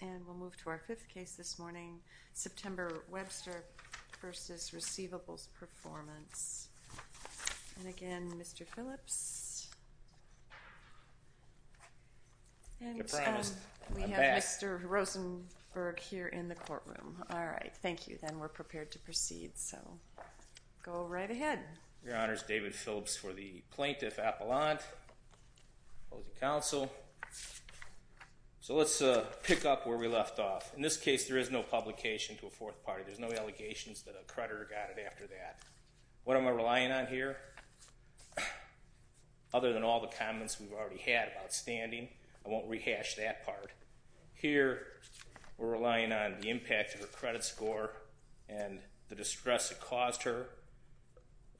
And we'll move to our fifth case this morning, September Webster v. Receivables Performance. And again, Mr. Phillips. And we have Mr. Rosenberg here in the courtroom. All right, thank you. Then we're prepared to proceed, so go right ahead. Your Honor, it's David Phillips for the Plaintiff Appellant opposing counsel. So let's pick up where we left off. In this case, there is no publication to a fourth party. There's no allegations that a creditor got it after that. What am I relying on here? Other than all the comments we've already had about standing, I won't rehash that part. Here, we're relying on the impact of her credit score and the distress it caused her.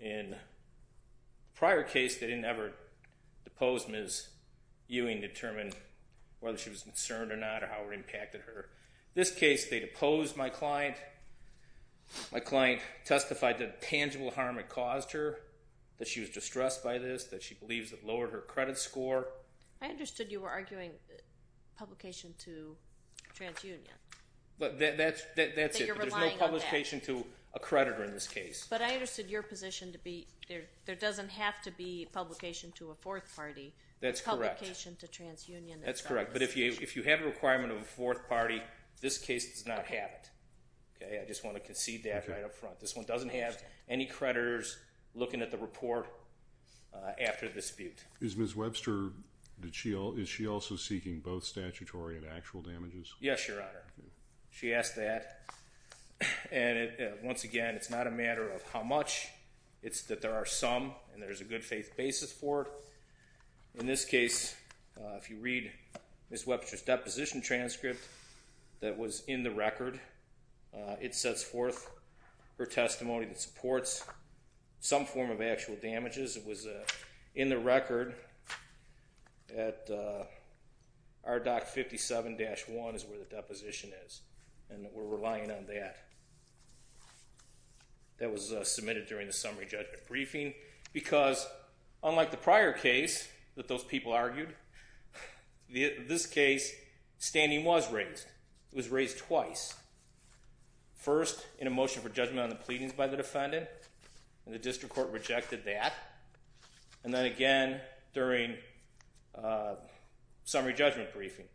In a prior case, they didn't ever depose Ms. Ewing to determine whether she was concerned or not or how it impacted her. In this case, they deposed my client. My client testified that the tangible harm it caused her, that she was distressed by this, that she believes it lowered her credit score. I understood you were arguing publication to TransUnion. That's it, but there's no publication to a creditor in this case. But I understood your position to be there doesn't have to be publication to a fourth party. That's correct. Publication to TransUnion. That's correct, but if you have a requirement of a fourth party, this case does not have it. I just want to concede that right up front. This one doesn't have any creditors looking at the report after the dispute. Is Ms. Webster, is she also seeking both statutory and actual damages? Yes, Your Honor. She asked that, and once again, it's not a matter of how much. It's that there are some, and there's a good faith basis for it. In this case, if you read Ms. Webster's deposition transcript that was in the record, it sets forth her testimony that supports some form of actual damages. It was in the record at RDoC 57-1 is where the deposition is, and we're relying on that. That was submitted during the summary judgment briefing because, unlike the prior case that those people argued, this case, standing was raised. It was raised twice. First, in a motion for judgment on the pleadings by the defendant, and the district court rejected that, and then again during summary judgment briefing.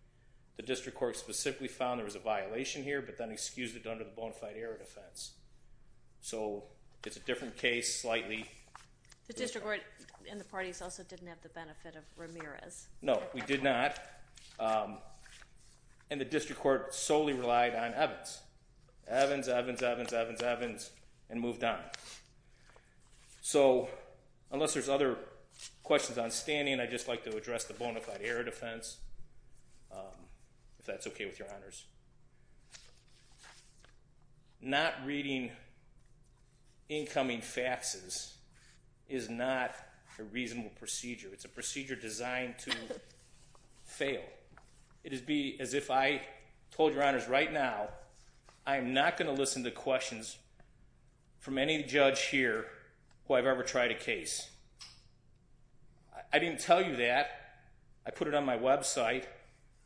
The district court specifically found there was a violation here, but then excused it under the bona fide error defense, so it's a different case, slightly. The district court and the parties also didn't have the benefit of Ramirez. No, we did not, and the district court solely relied on Evans. Evans, Evans, Evans, Evans, Evans, and moved on. So, unless there's other questions on standing, I'd just like to address the bona fide error defense, if that's okay with your honors. Not reading incoming faxes is not a reasonable procedure. It's a procedure designed to fail. It would be as if I told your honors right now, I am not going to listen to questions from any judge here who I've ever tried a case. I didn't tell you that. I put it on my website,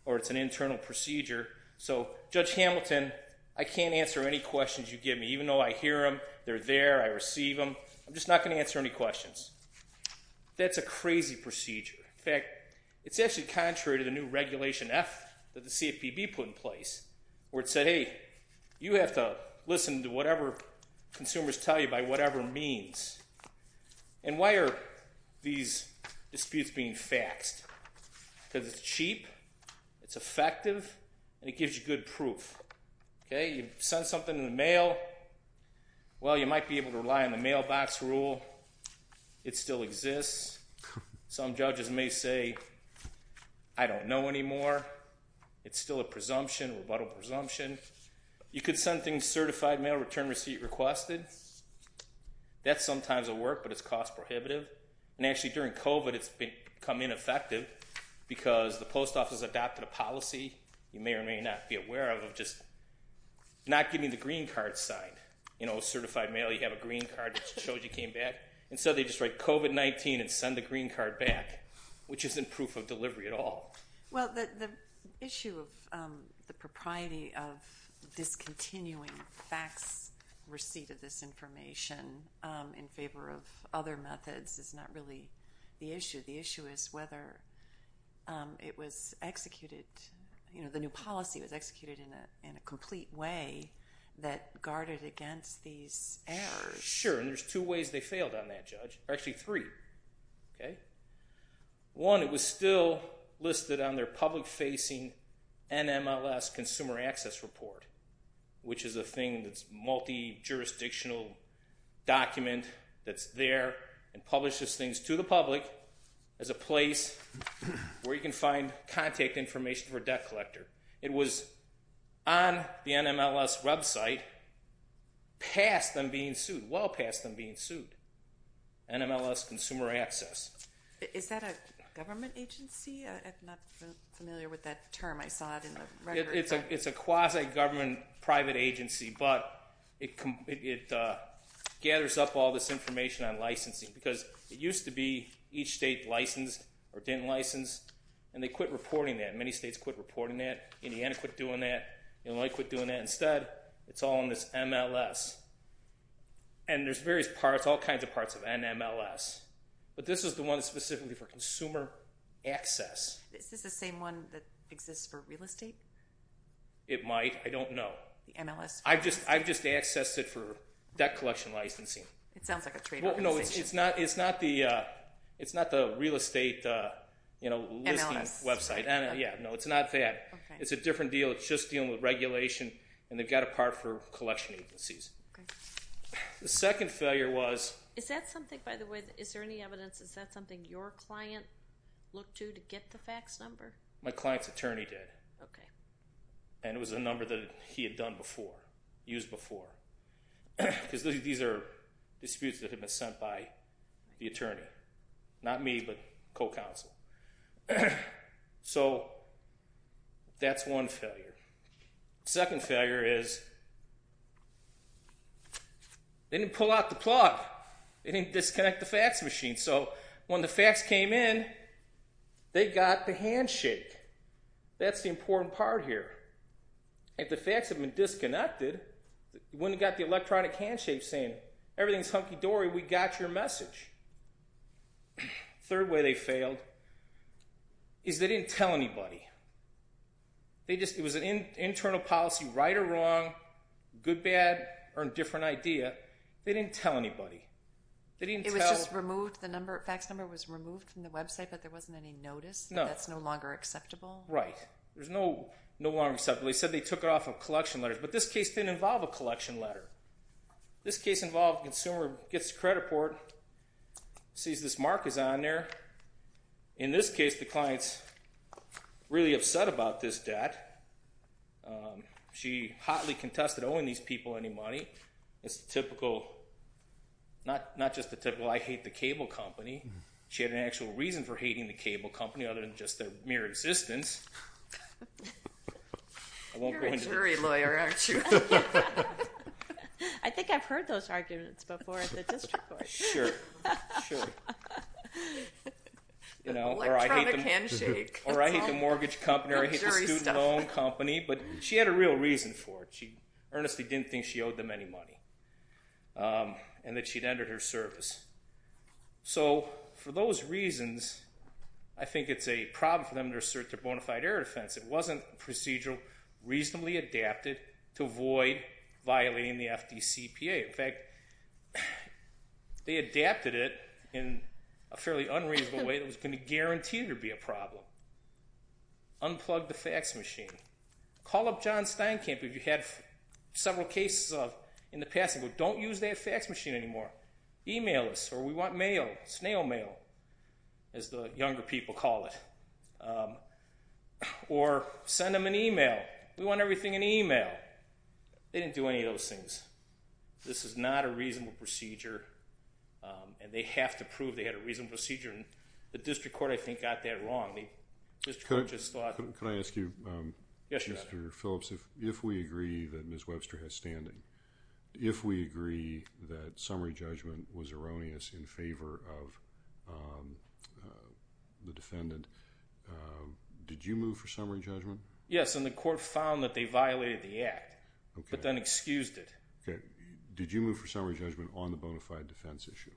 or it's an internal procedure. So, Judge Hamilton, I can't answer any questions you give me, even though I hear them, they're there, I receive them. I'm just not going to answer any questions. That's a crazy procedure. In fact, it's actually contrary to the new Regulation F that the CFPB put in place, where it said, hey, you have to listen to whatever consumers tell you by whatever means. And why are these disputes being faxed? Because it's cheap, it's effective, and it gives you good proof. Okay, you send something in the mail, well, you might be able to rely on the mailbox rule. It still exists. Some judges may say, I don't know anymore. It's still a presumption, rebuttal presumption. You could send things certified mail, return receipt requested. That sometimes will work, but it's cost prohibitive. And actually, during COVID, it's become ineffective because the post office adopted a policy, you may or may not be aware of, of just not giving the green card sign. You know, certified mail, you have a green card that shows you came back. Instead, they just write COVID-19 and send the green card back, which isn't proof of delivery at all. Well, the issue of the propriety of discontinuing fax receipt of this information in favor of other methods is not really the issue. The issue is whether it was executed, you know, the new policy was executed in a complete way that guarded against these errors. Sure, and there's two ways they failed on that, Judge. Actually, three. Okay. One, it was still listed on their public-facing NMLS consumer access report, which is a thing that's multi-jurisdictional document that's there and publishes things to the public as a place where you can find contact information for debt collector. It was on the NMLS website past them being sued, well past them being sued, NMLS consumer access. Is that a government agency? I'm not familiar with that term. I saw it in the record. It's a quasi-government private agency, but it gathers up all this information on licensing because it used to be each state licensed or didn't license, and they quit reporting that. Many states quit reporting that. Indiana quit doing that. Illinois quit doing that. Instead, it's all on this MLS, and there's various parts, all kinds of parts of NMLS, but this is the one specifically for consumer access. Is this the same one that exists for real estate? It might. I don't know. The MLS? I've just accessed it for debt collection licensing. It sounds like a trade organization. It's not the real estate listing website. NMLS. Yeah, no, it's not that. It's a different deal. It's just dealing with regulation, and they've got a part for collection agencies. The second failure was- Is that something, by the way, is there any evidence, is that something your client looked to to get the fax number? My client's attorney did. Okay. And it was a number that he had done before, used before. Because these are disputes that have been sent by the attorney. Not me, but co-counsel. So that's one failure. Second failure is they didn't pull out the plug. They didn't disconnect the fax machine. So when the fax came in, they got the handshake. That's the important part here. If the fax had been disconnected, you wouldn't have got the electronic handshake saying, everything's hunky-dory, we got your message. Third way they failed is they didn't tell anybody. It was an internal policy, right or wrong, good, bad, or a different idea. They didn't tell anybody. They didn't tell- It was just removed. The fax number was removed from the website, but there wasn't any notice that that's no longer acceptable? Right. There's no longer acceptable. They said they took it off of collection letters. But this case didn't involve a collection letter. This case involved the consumer gets the credit report, sees this mark is on there. In this case, the client's really upset about this debt. She hotly contested owing these people any money. It's the typical, not just the typical, I hate the cable company. She had an actual reason for hating the cable company other than just their mere existence. You're a jury lawyer, aren't you? I think I've heard those arguments before at the district court. Sure, sure. Electronic handshake. Or I hate the mortgage company or I hate the student loan company, but she had a real reason for it. She earnestly didn't think she owed them any money and that she'd ended her service. So for those reasons, I think it's a problem for them to assert their bona fide error defense. It wasn't procedurally reasonably adapted to avoid violating the FDCPA. In fact, they adapted it in a fairly unreasonable way that was going to guarantee there'd be a problem. Unplug the fax machine. Call up John Steinkamp if you had several cases of in the past, and go, don't use that fax machine anymore. Email us, or we want mail, snail mail, as the younger people call it. Or send them an email. We want everything in email. They didn't do any of those things. This is not a reasonable procedure, and they have to prove they had a reasonable procedure, and the district court, I think, got that wrong. The district court just thought. Could I ask you, Mr. Phillips, if we agree that Ms. Webster has standing, if we agree that summary judgment was erroneous in favor of the defendant, did you move for summary judgment? Yes, and the court found that they violated the act, but then excused it. Did you move for summary judgment on the bona fide defense issue?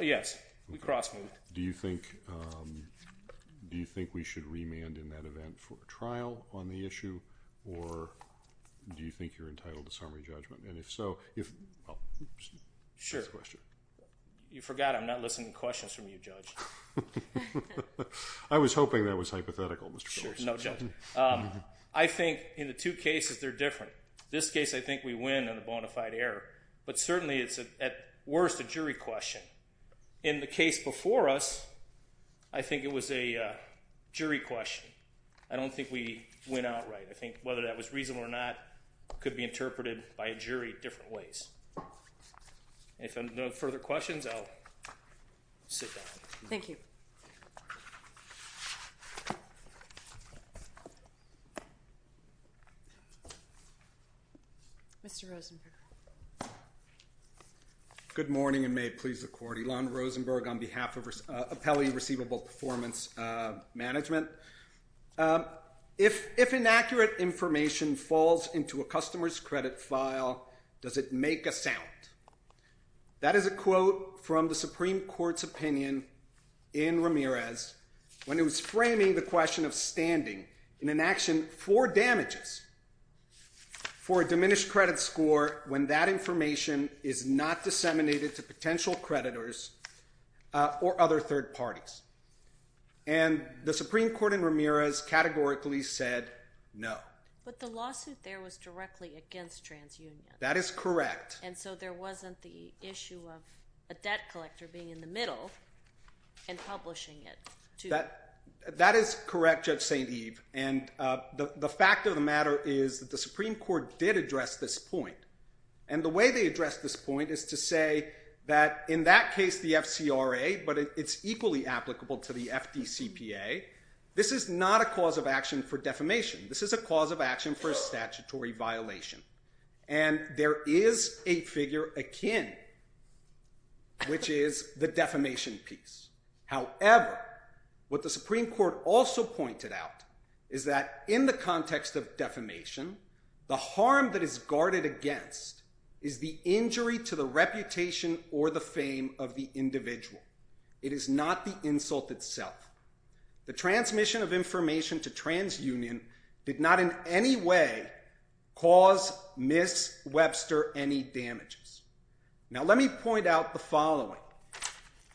Yes, we cross-moved. Do you think we should remand in that event for a trial on the issue, or do you think you're entitled to summary judgment? And if so, I'll take the question. You forgot I'm not listening to questions from you, Judge. I was hoping that was hypothetical, Mr. Phillips. No, Judge. I think in the two cases they're different. This case I think we win on the bona fide error, but certainly it's at worst a jury question. In the case before us, I think it was a jury question. I don't think we win outright. I think whether that was reasonable or not could be interpreted by a jury different ways. If there are no further questions, I'll sit down. Thank you. Mr. Rosenberg. Good morning, and may it please the Court. I'm Elan Rosenberg on behalf of Appellee Receivable Performance Management. If inaccurate information falls into a customer's credit file, does it make a sound? That is a quote from the Supreme Court's opinion in Ramirez when it was framing the question of standing in an action for damages for a diminished credit score when that information is not disseminated to potential creditors or other third parties. And the Supreme Court in Ramirez categorically said no. But the lawsuit there was directly against TransUnion. That is correct. And so there wasn't the issue of a debt collector being in the middle and publishing it. That is correct, Judge St. Eve. And the fact of the matter is that the Supreme Court did address this point. And the way they addressed this point is to say that in that case, the FCRA, but it's equally applicable to the FDCPA, this is not a cause of action for defamation. This is a cause of action for a statutory violation. And there is a figure akin, which is the defamation piece. However, what the Supreme Court also pointed out is that in the context of defamation, the harm that is guarded against is the injury to the reputation or the fame of the individual. It is not the insult itself. The transmission of information to TransUnion did not in any way cause Ms. Webster any damages.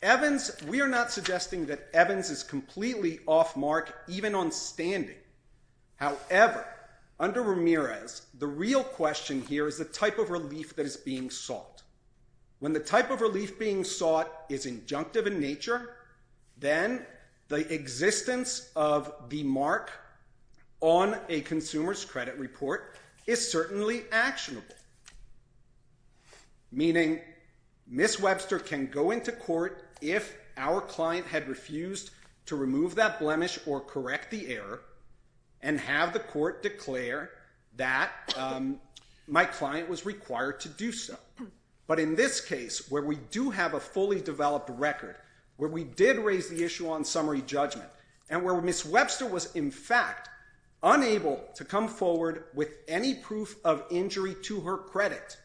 Evans, we are not suggesting that Evans is completely off mark even on standing. However, under Ramirez, the real question here is the type of relief that is being sought. When the type of relief being sought is injunctive in nature, then the existence of the mark on a consumer's credit report is certainly actionable. Meaning, Ms. Webster can go into court if our client had refused to remove that blemish or correct the error and have the court declare that my client was required to do so. But in this case, where we do have a fully developed record, where we did raise the issue on summary judgment, and where Ms. Webster was in fact unable to come forward with any proof of injury to her credit,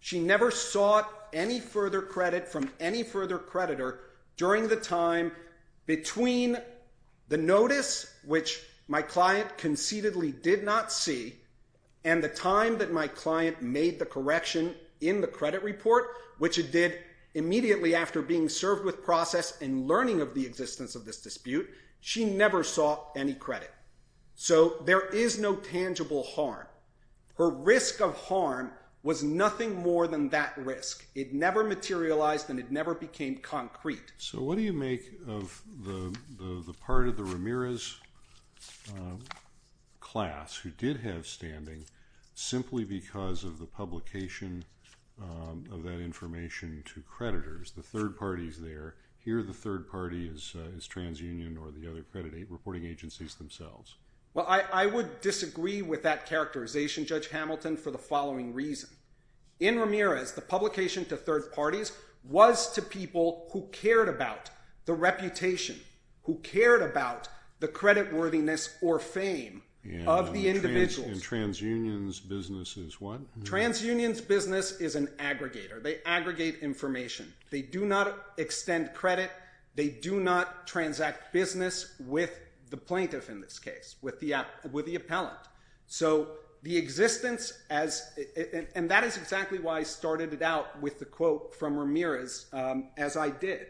she never sought any further credit from any further creditor during the time between the notice, which my client conceitedly did not see, and the time that my client made the correction in the credit report, which it did immediately after being served with process and learning of the existence of this dispute, she never sought any credit. So there is no tangible harm. Her risk of harm was nothing more than that risk. It never materialized and it never became concrete. So what do you make of the part of the Ramirez class who did have standing simply because of the publication of that information to creditors, the third parties there? Here the third party is TransUnion or the other credit reporting agencies themselves. Well, I would disagree with that characterization, Judge Hamilton, for the following reason. In Ramirez, the publication to third parties was to people who cared about the reputation, who cared about the credit worthiness or fame of the individuals. And TransUnion's business is what? TransUnion's business is an aggregator. They aggregate information. They do not extend credit. They do not transact business with the plaintiff in this case, with the appellant. So the existence, and that is exactly why I started it out with the quote from Ramirez as I did.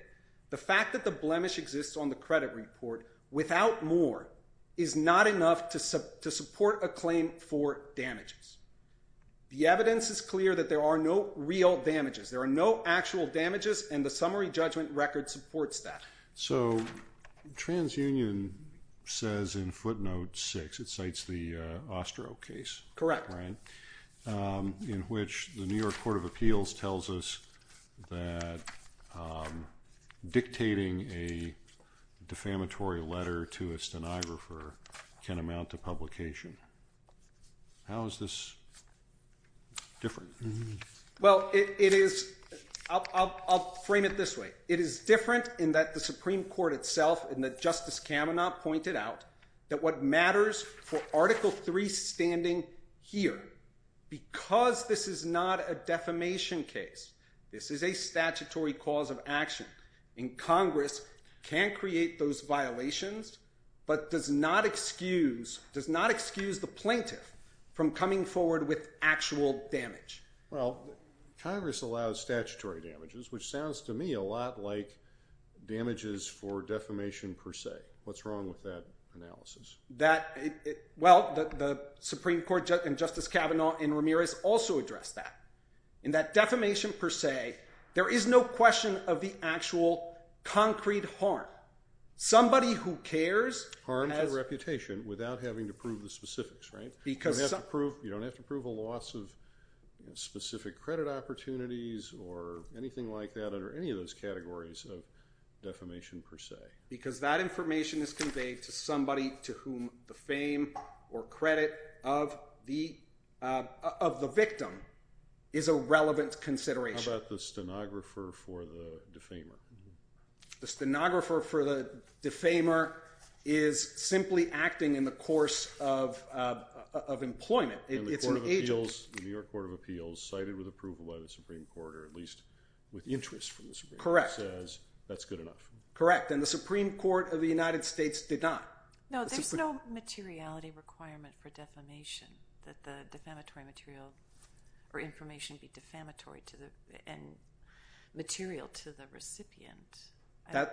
The fact that the blemish exists on the credit report without more is not enough to support a claim for damages. The evidence is clear that there are no real damages. There are no actual damages, and the summary judgment record supports that. So TransUnion says in footnote 6, it cites the Ostro case. Correct. In which the New York Court of Appeals tells us that dictating a defamatory letter to a stenographer can amount to publication. How is this different? Well, it is, I'll frame it this way. It is different in that the Supreme Court itself and that Justice Kavanaugh pointed out that what matters for Article 3 standing here, because this is not a defamation case, this is a statutory cause of action, and Congress can create those violations but does not excuse the plaintiff from coming forward with actual damage. Well, Congress allows statutory damages, which sounds to me a lot like damages for defamation per se. What's wrong with that analysis? Well, the Supreme Court and Justice Kavanaugh and Ramirez also address that. In that defamation per se, there is no question of the actual concrete harm. Somebody who cares... Harm to reputation without having to prove the specifics, right? You don't have to prove a loss of specific credit opportunities or anything like that under any of those categories of defamation per se. Because that information is conveyed to somebody to whom the fame or credit of the victim is a relevant consideration. How about the stenographer for the defamer? The stenographer for the defamer is simply acting in the course of employment. It's an agent. The New York Court of Appeals cited with approval by the Supreme Court, or at least with interest from the Supreme Court, says that's good enough. Correct, and the Supreme Court of the United States did not. No, there's no materiality requirement for defamation, that the defamatory material or information be defamatory and material to the recipient. I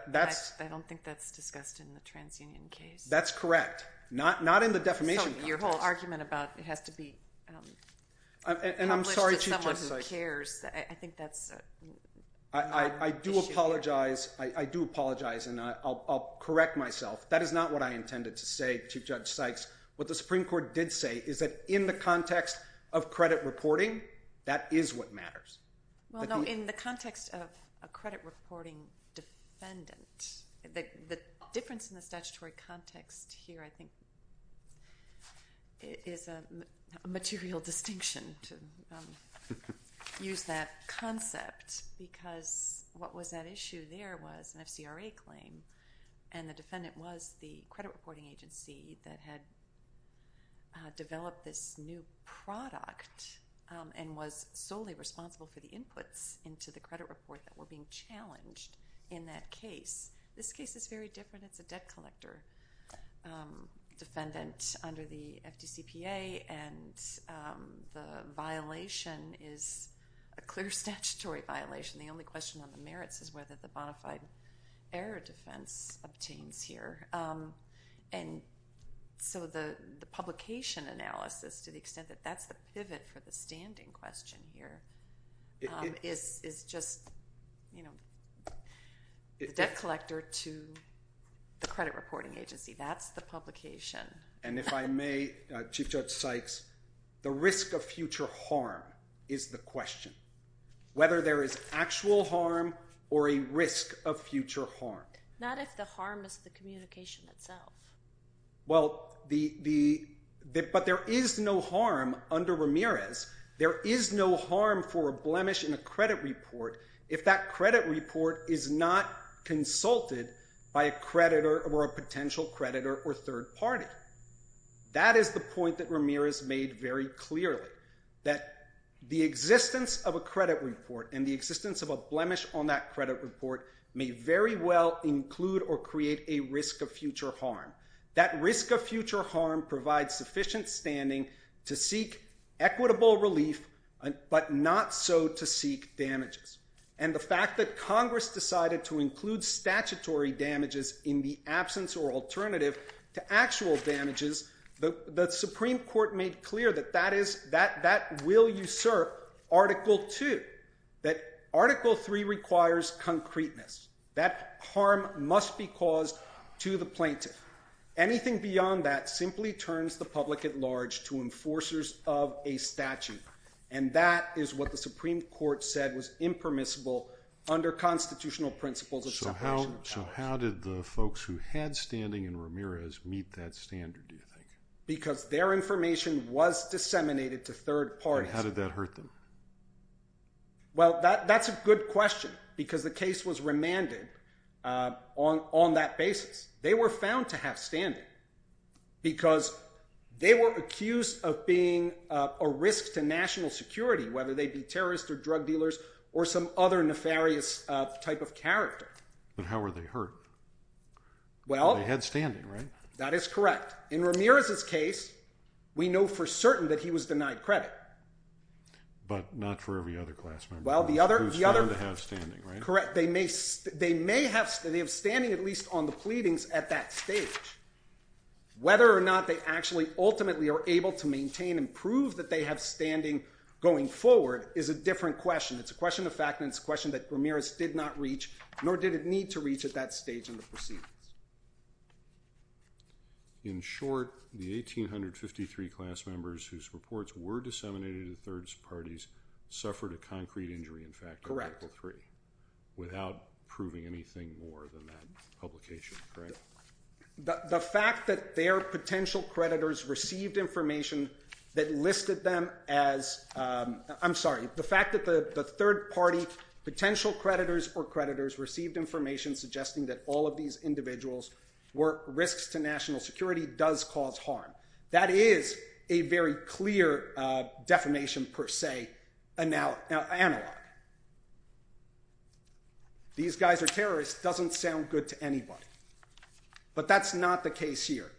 don't think that's discussed in the TransUnion case. That's correct. Not in the defamation context. So your whole argument about it has to be published to someone who cares, I think that's not an issue. I do apologize, and I'll correct myself. That is not what I intended to say, Chief Judge Sykes. What the Supreme Court did say is that in the context of credit reporting, that is what matters. Well, no, in the context of a credit reporting defendant, the difference in the statutory context here, I think, is a material distinction to use that concept, because what was at issue there was an FCRA claim, and the defendant was the credit reporting agency that had developed this new product, and was solely responsible for the inputs into the credit report that were being challenged in that case. This case is very different. It's a debt collector defendant under the FDCPA, and the violation is a clear statutory violation. The only question on the merits is whether the bona fide error defense obtains here. And so the publication analysis, to the extent that that's the pivot for the standing question here, is just the debt collector to the credit reporting agency. That's the publication. And if I may, Chief Judge Sykes, the risk of future harm is the question, whether there is actual harm or a risk of future harm. Not if the harm is the communication itself. Well, but there is no harm under Ramirez. There is no harm for a blemish in a credit report if that credit report is not consulted by a creditor or a potential creditor or third party. That is the point that Ramirez made very clearly. That the existence of a credit report and the existence of a blemish on that credit report may very well include or create a risk of future harm. That risk of future harm provides sufficient standing to seek equitable relief, but not so to seek damages. And the fact that Congress decided to include statutory damages in the absence or alternative to actual damages, the Supreme Court made clear that that will usurp Article 2. That Article 3 requires concreteness. That harm must be caused to the plaintiff. Anything beyond that simply turns the public at large to enforcers of a statute. And that is what the Supreme Court said was impermissible under constitutional principles of separation of powers. So how did the folks who had standing in Ramirez meet that standard, do you think? Because their information was disseminated to third parties. And how did that hurt them? Well, that's a good question because the case was remanded on that basis. They were found to have standing because they were accused of being a risk to national security, whether they be terrorists or drug dealers or some other nefarious type of character. But how were they hurt? They had standing, right? That is correct. In Ramirez's case, we know for certain that he was denied credit. But not for every other class member who was found to have standing, right? Correct. They may have standing, at least on the pleadings, at that stage. Whether or not they actually ultimately are able to maintain and prove that they have standing going forward is a different question. It's a question of fact and it's a question that Ramirez did not reach, nor did it need to reach at that stage in the proceedings. In short, the 1,853 class members whose reports were disseminated to third parties suffered a concrete injury, in fact, in Article 3. Without proving anything more than that publication, correct? The fact that their potential creditors received information that listed them as – I'm sorry. The fact that the third party potential creditors or creditors received information suggesting that all of these individuals were risks to national security does cause harm. That is a very clear definition, per se, analog. These guys are terrorists doesn't sound good to anybody. But that's not the case here.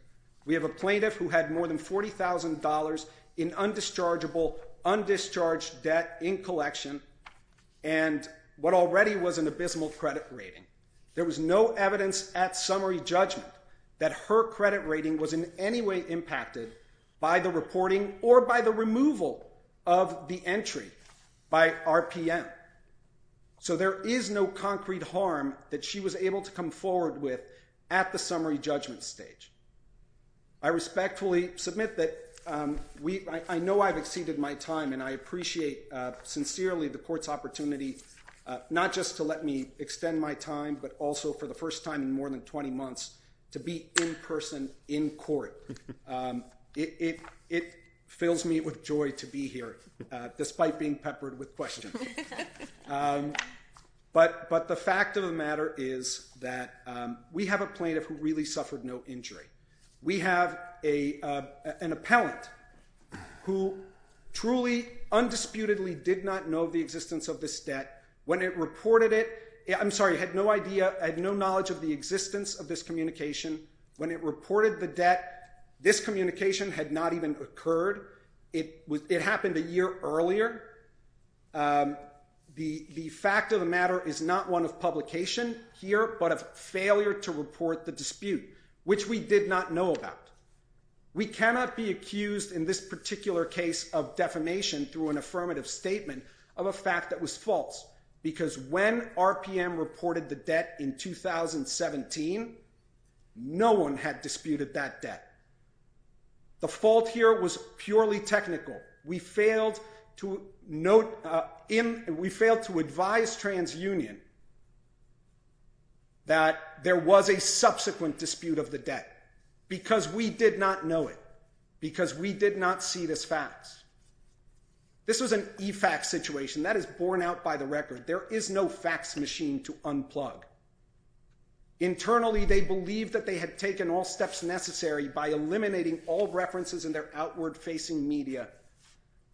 We have a plaintiff who had more than $40,000 in undischargeable, undischarged debt in collection and what already was an abysmal credit rating. There was no evidence at summary judgment that her credit rating was in any way impacted by the reporting or by the removal of the entry by RPM. So there is no concrete harm that she was able to come forward with at the summary judgment stage. I respectfully submit that we – I know I've exceeded my time and I appreciate sincerely the court's opportunity not just to let me extend my time but also for the first time in more than 20 months to be in person in court. It fills me with joy to be here despite being peppered with questions. But the fact of the matter is that we have a plaintiff who really suffered no injury. We have an appellant who truly, undisputedly did not know the existence of this debt. When it reported it – I'm sorry, had no idea, had no knowledge of the existence of this communication. When it reported the debt, this communication had not even occurred. It happened a year earlier. The fact of the matter is not one of publication here but of failure to report the dispute, which we did not know about. We cannot be accused in this particular case of defamation through an affirmative statement of a fact that was false because when RPM reported the debt in 2017, no one had disputed that debt. The fault here was purely technical. We failed to note – we failed to advise TransUnion that there was a subsequent dispute of the debt because we did not know it, because we did not see this fax. This was an e-fax situation. That is borne out by the record. There is no fax machine to unplug. Internally, they believed that they had taken all steps necessary by eliminating all references in their outward-facing media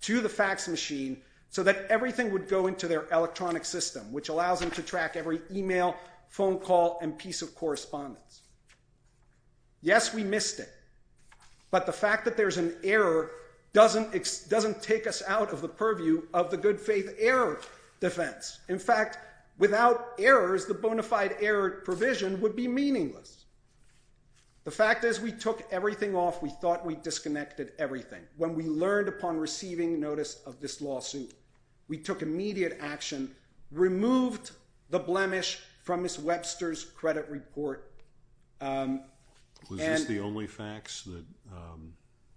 to the fax machine so that everything would go into their electronic system, which allows them to track every email, phone call, and piece of correspondence. Yes, we missed it, but the fact that there's an error doesn't take us out of the purview of the good faith error defense. In fact, without errors, the bona fide error provision would be meaningless. The fact is we took everything off. We thought we disconnected everything. When we learned upon receiving notice of this lawsuit, we took immediate action, removed the blemish from Ms. Webster's credit report. Was this the only fax that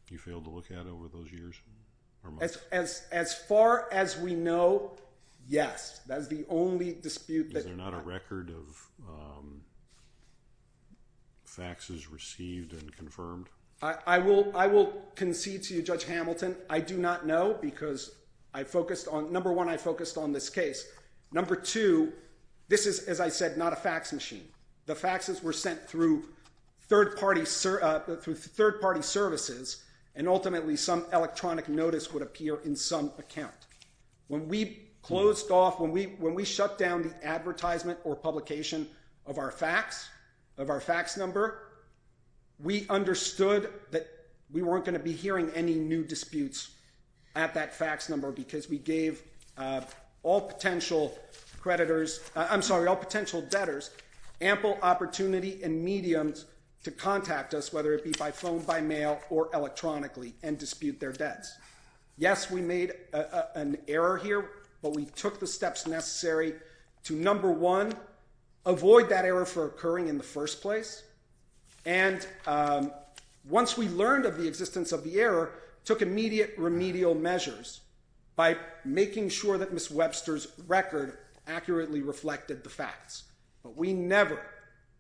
you failed to look at over those years? As far as we know, yes. That is the only dispute. Is there not a record of faxes received and confirmed? I will concede to you, Judge Hamilton. I do not know, because, number one, I focused on this case. Number two, this is, as I said, not a fax machine. The faxes were sent through third-party services, and ultimately some electronic notice would appear in some account. When we closed off, when we shut down the advertisement or publication of our fax number, we understood that we weren't going to be hearing any new disputes at that fax number, because we gave all potential debtors ample opportunity and mediums to contact us, whether it be by phone, by mail, or electronically, and dispute their debts. Yes, we made an error here, but we took the steps necessary to, number one, avoid that error from occurring in the first place. And once we learned of the existence of the error, we took immediate remedial measures by making sure that Ms. Webster's record accurately reflected the facts. But we never,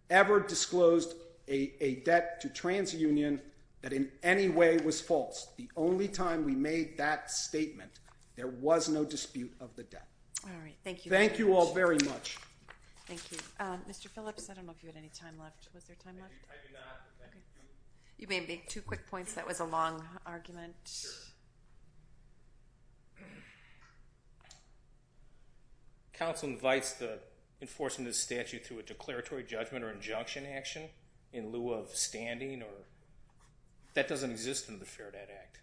ever disclosed a debt to TransUnion that in any way was false. The only time we made that statement, there was no dispute of the debt. All right. Thank you very much. Thank you all very much. Thank you. Mr. Phillips, I don't know if you had any time left. Was there time left? I do not. Okay. You may have made two quick points. That was a long argument. Sure. Counsel invites the enforcement of the statute through a declaratory judgment or injunction action in lieu of standing, or that doesn't exist in the Fair Debt Act.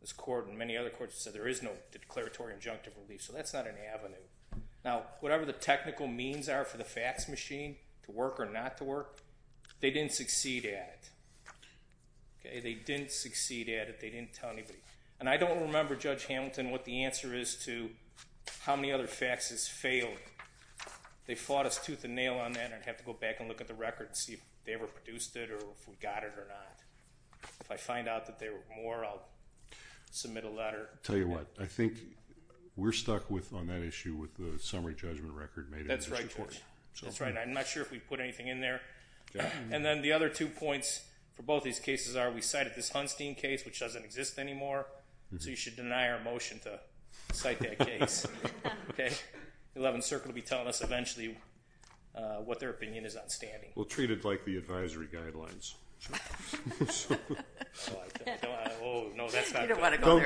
This court and many other courts have said there is no declaratory injunctive relief, so that's not an avenue. Now, whatever the technical means are for the fax machine to work or not to work, they didn't succeed at it. They didn't succeed at it. They didn't tell anybody. And I don't remember, Judge Hamilton, what the answer is to how many other faxes failed. They fought us tooth and nail on that, and I'd have to go back and look at the record and see if they ever produced it or if we got it or not. If I find out that there were more, I'll submit a letter. Tell you what, I think we're stuck on that issue with the summary judgment record made in this report. That's right, Judge. That's right. I'm not sure if we put anything in there. And then the other two points for both these cases are we cited this Hunstein case, which doesn't exist anymore, so you should deny our motion to cite that case. Okay? The Eleventh Circle will be telling us eventually what their opinion is on standing. Well, treat it like the advisory guidelines. Oh, no, that's not good. You don't want to go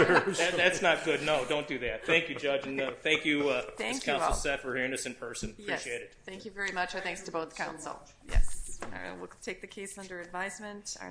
there. That's not good. No, don't do that. Thank you, Judge. And thank you, Ms. Counsel Seth, for hearing us in person. Appreciate it. Yes. Thank you very much. Our thanks to both counsel. Yes. We'll take the case under advisement.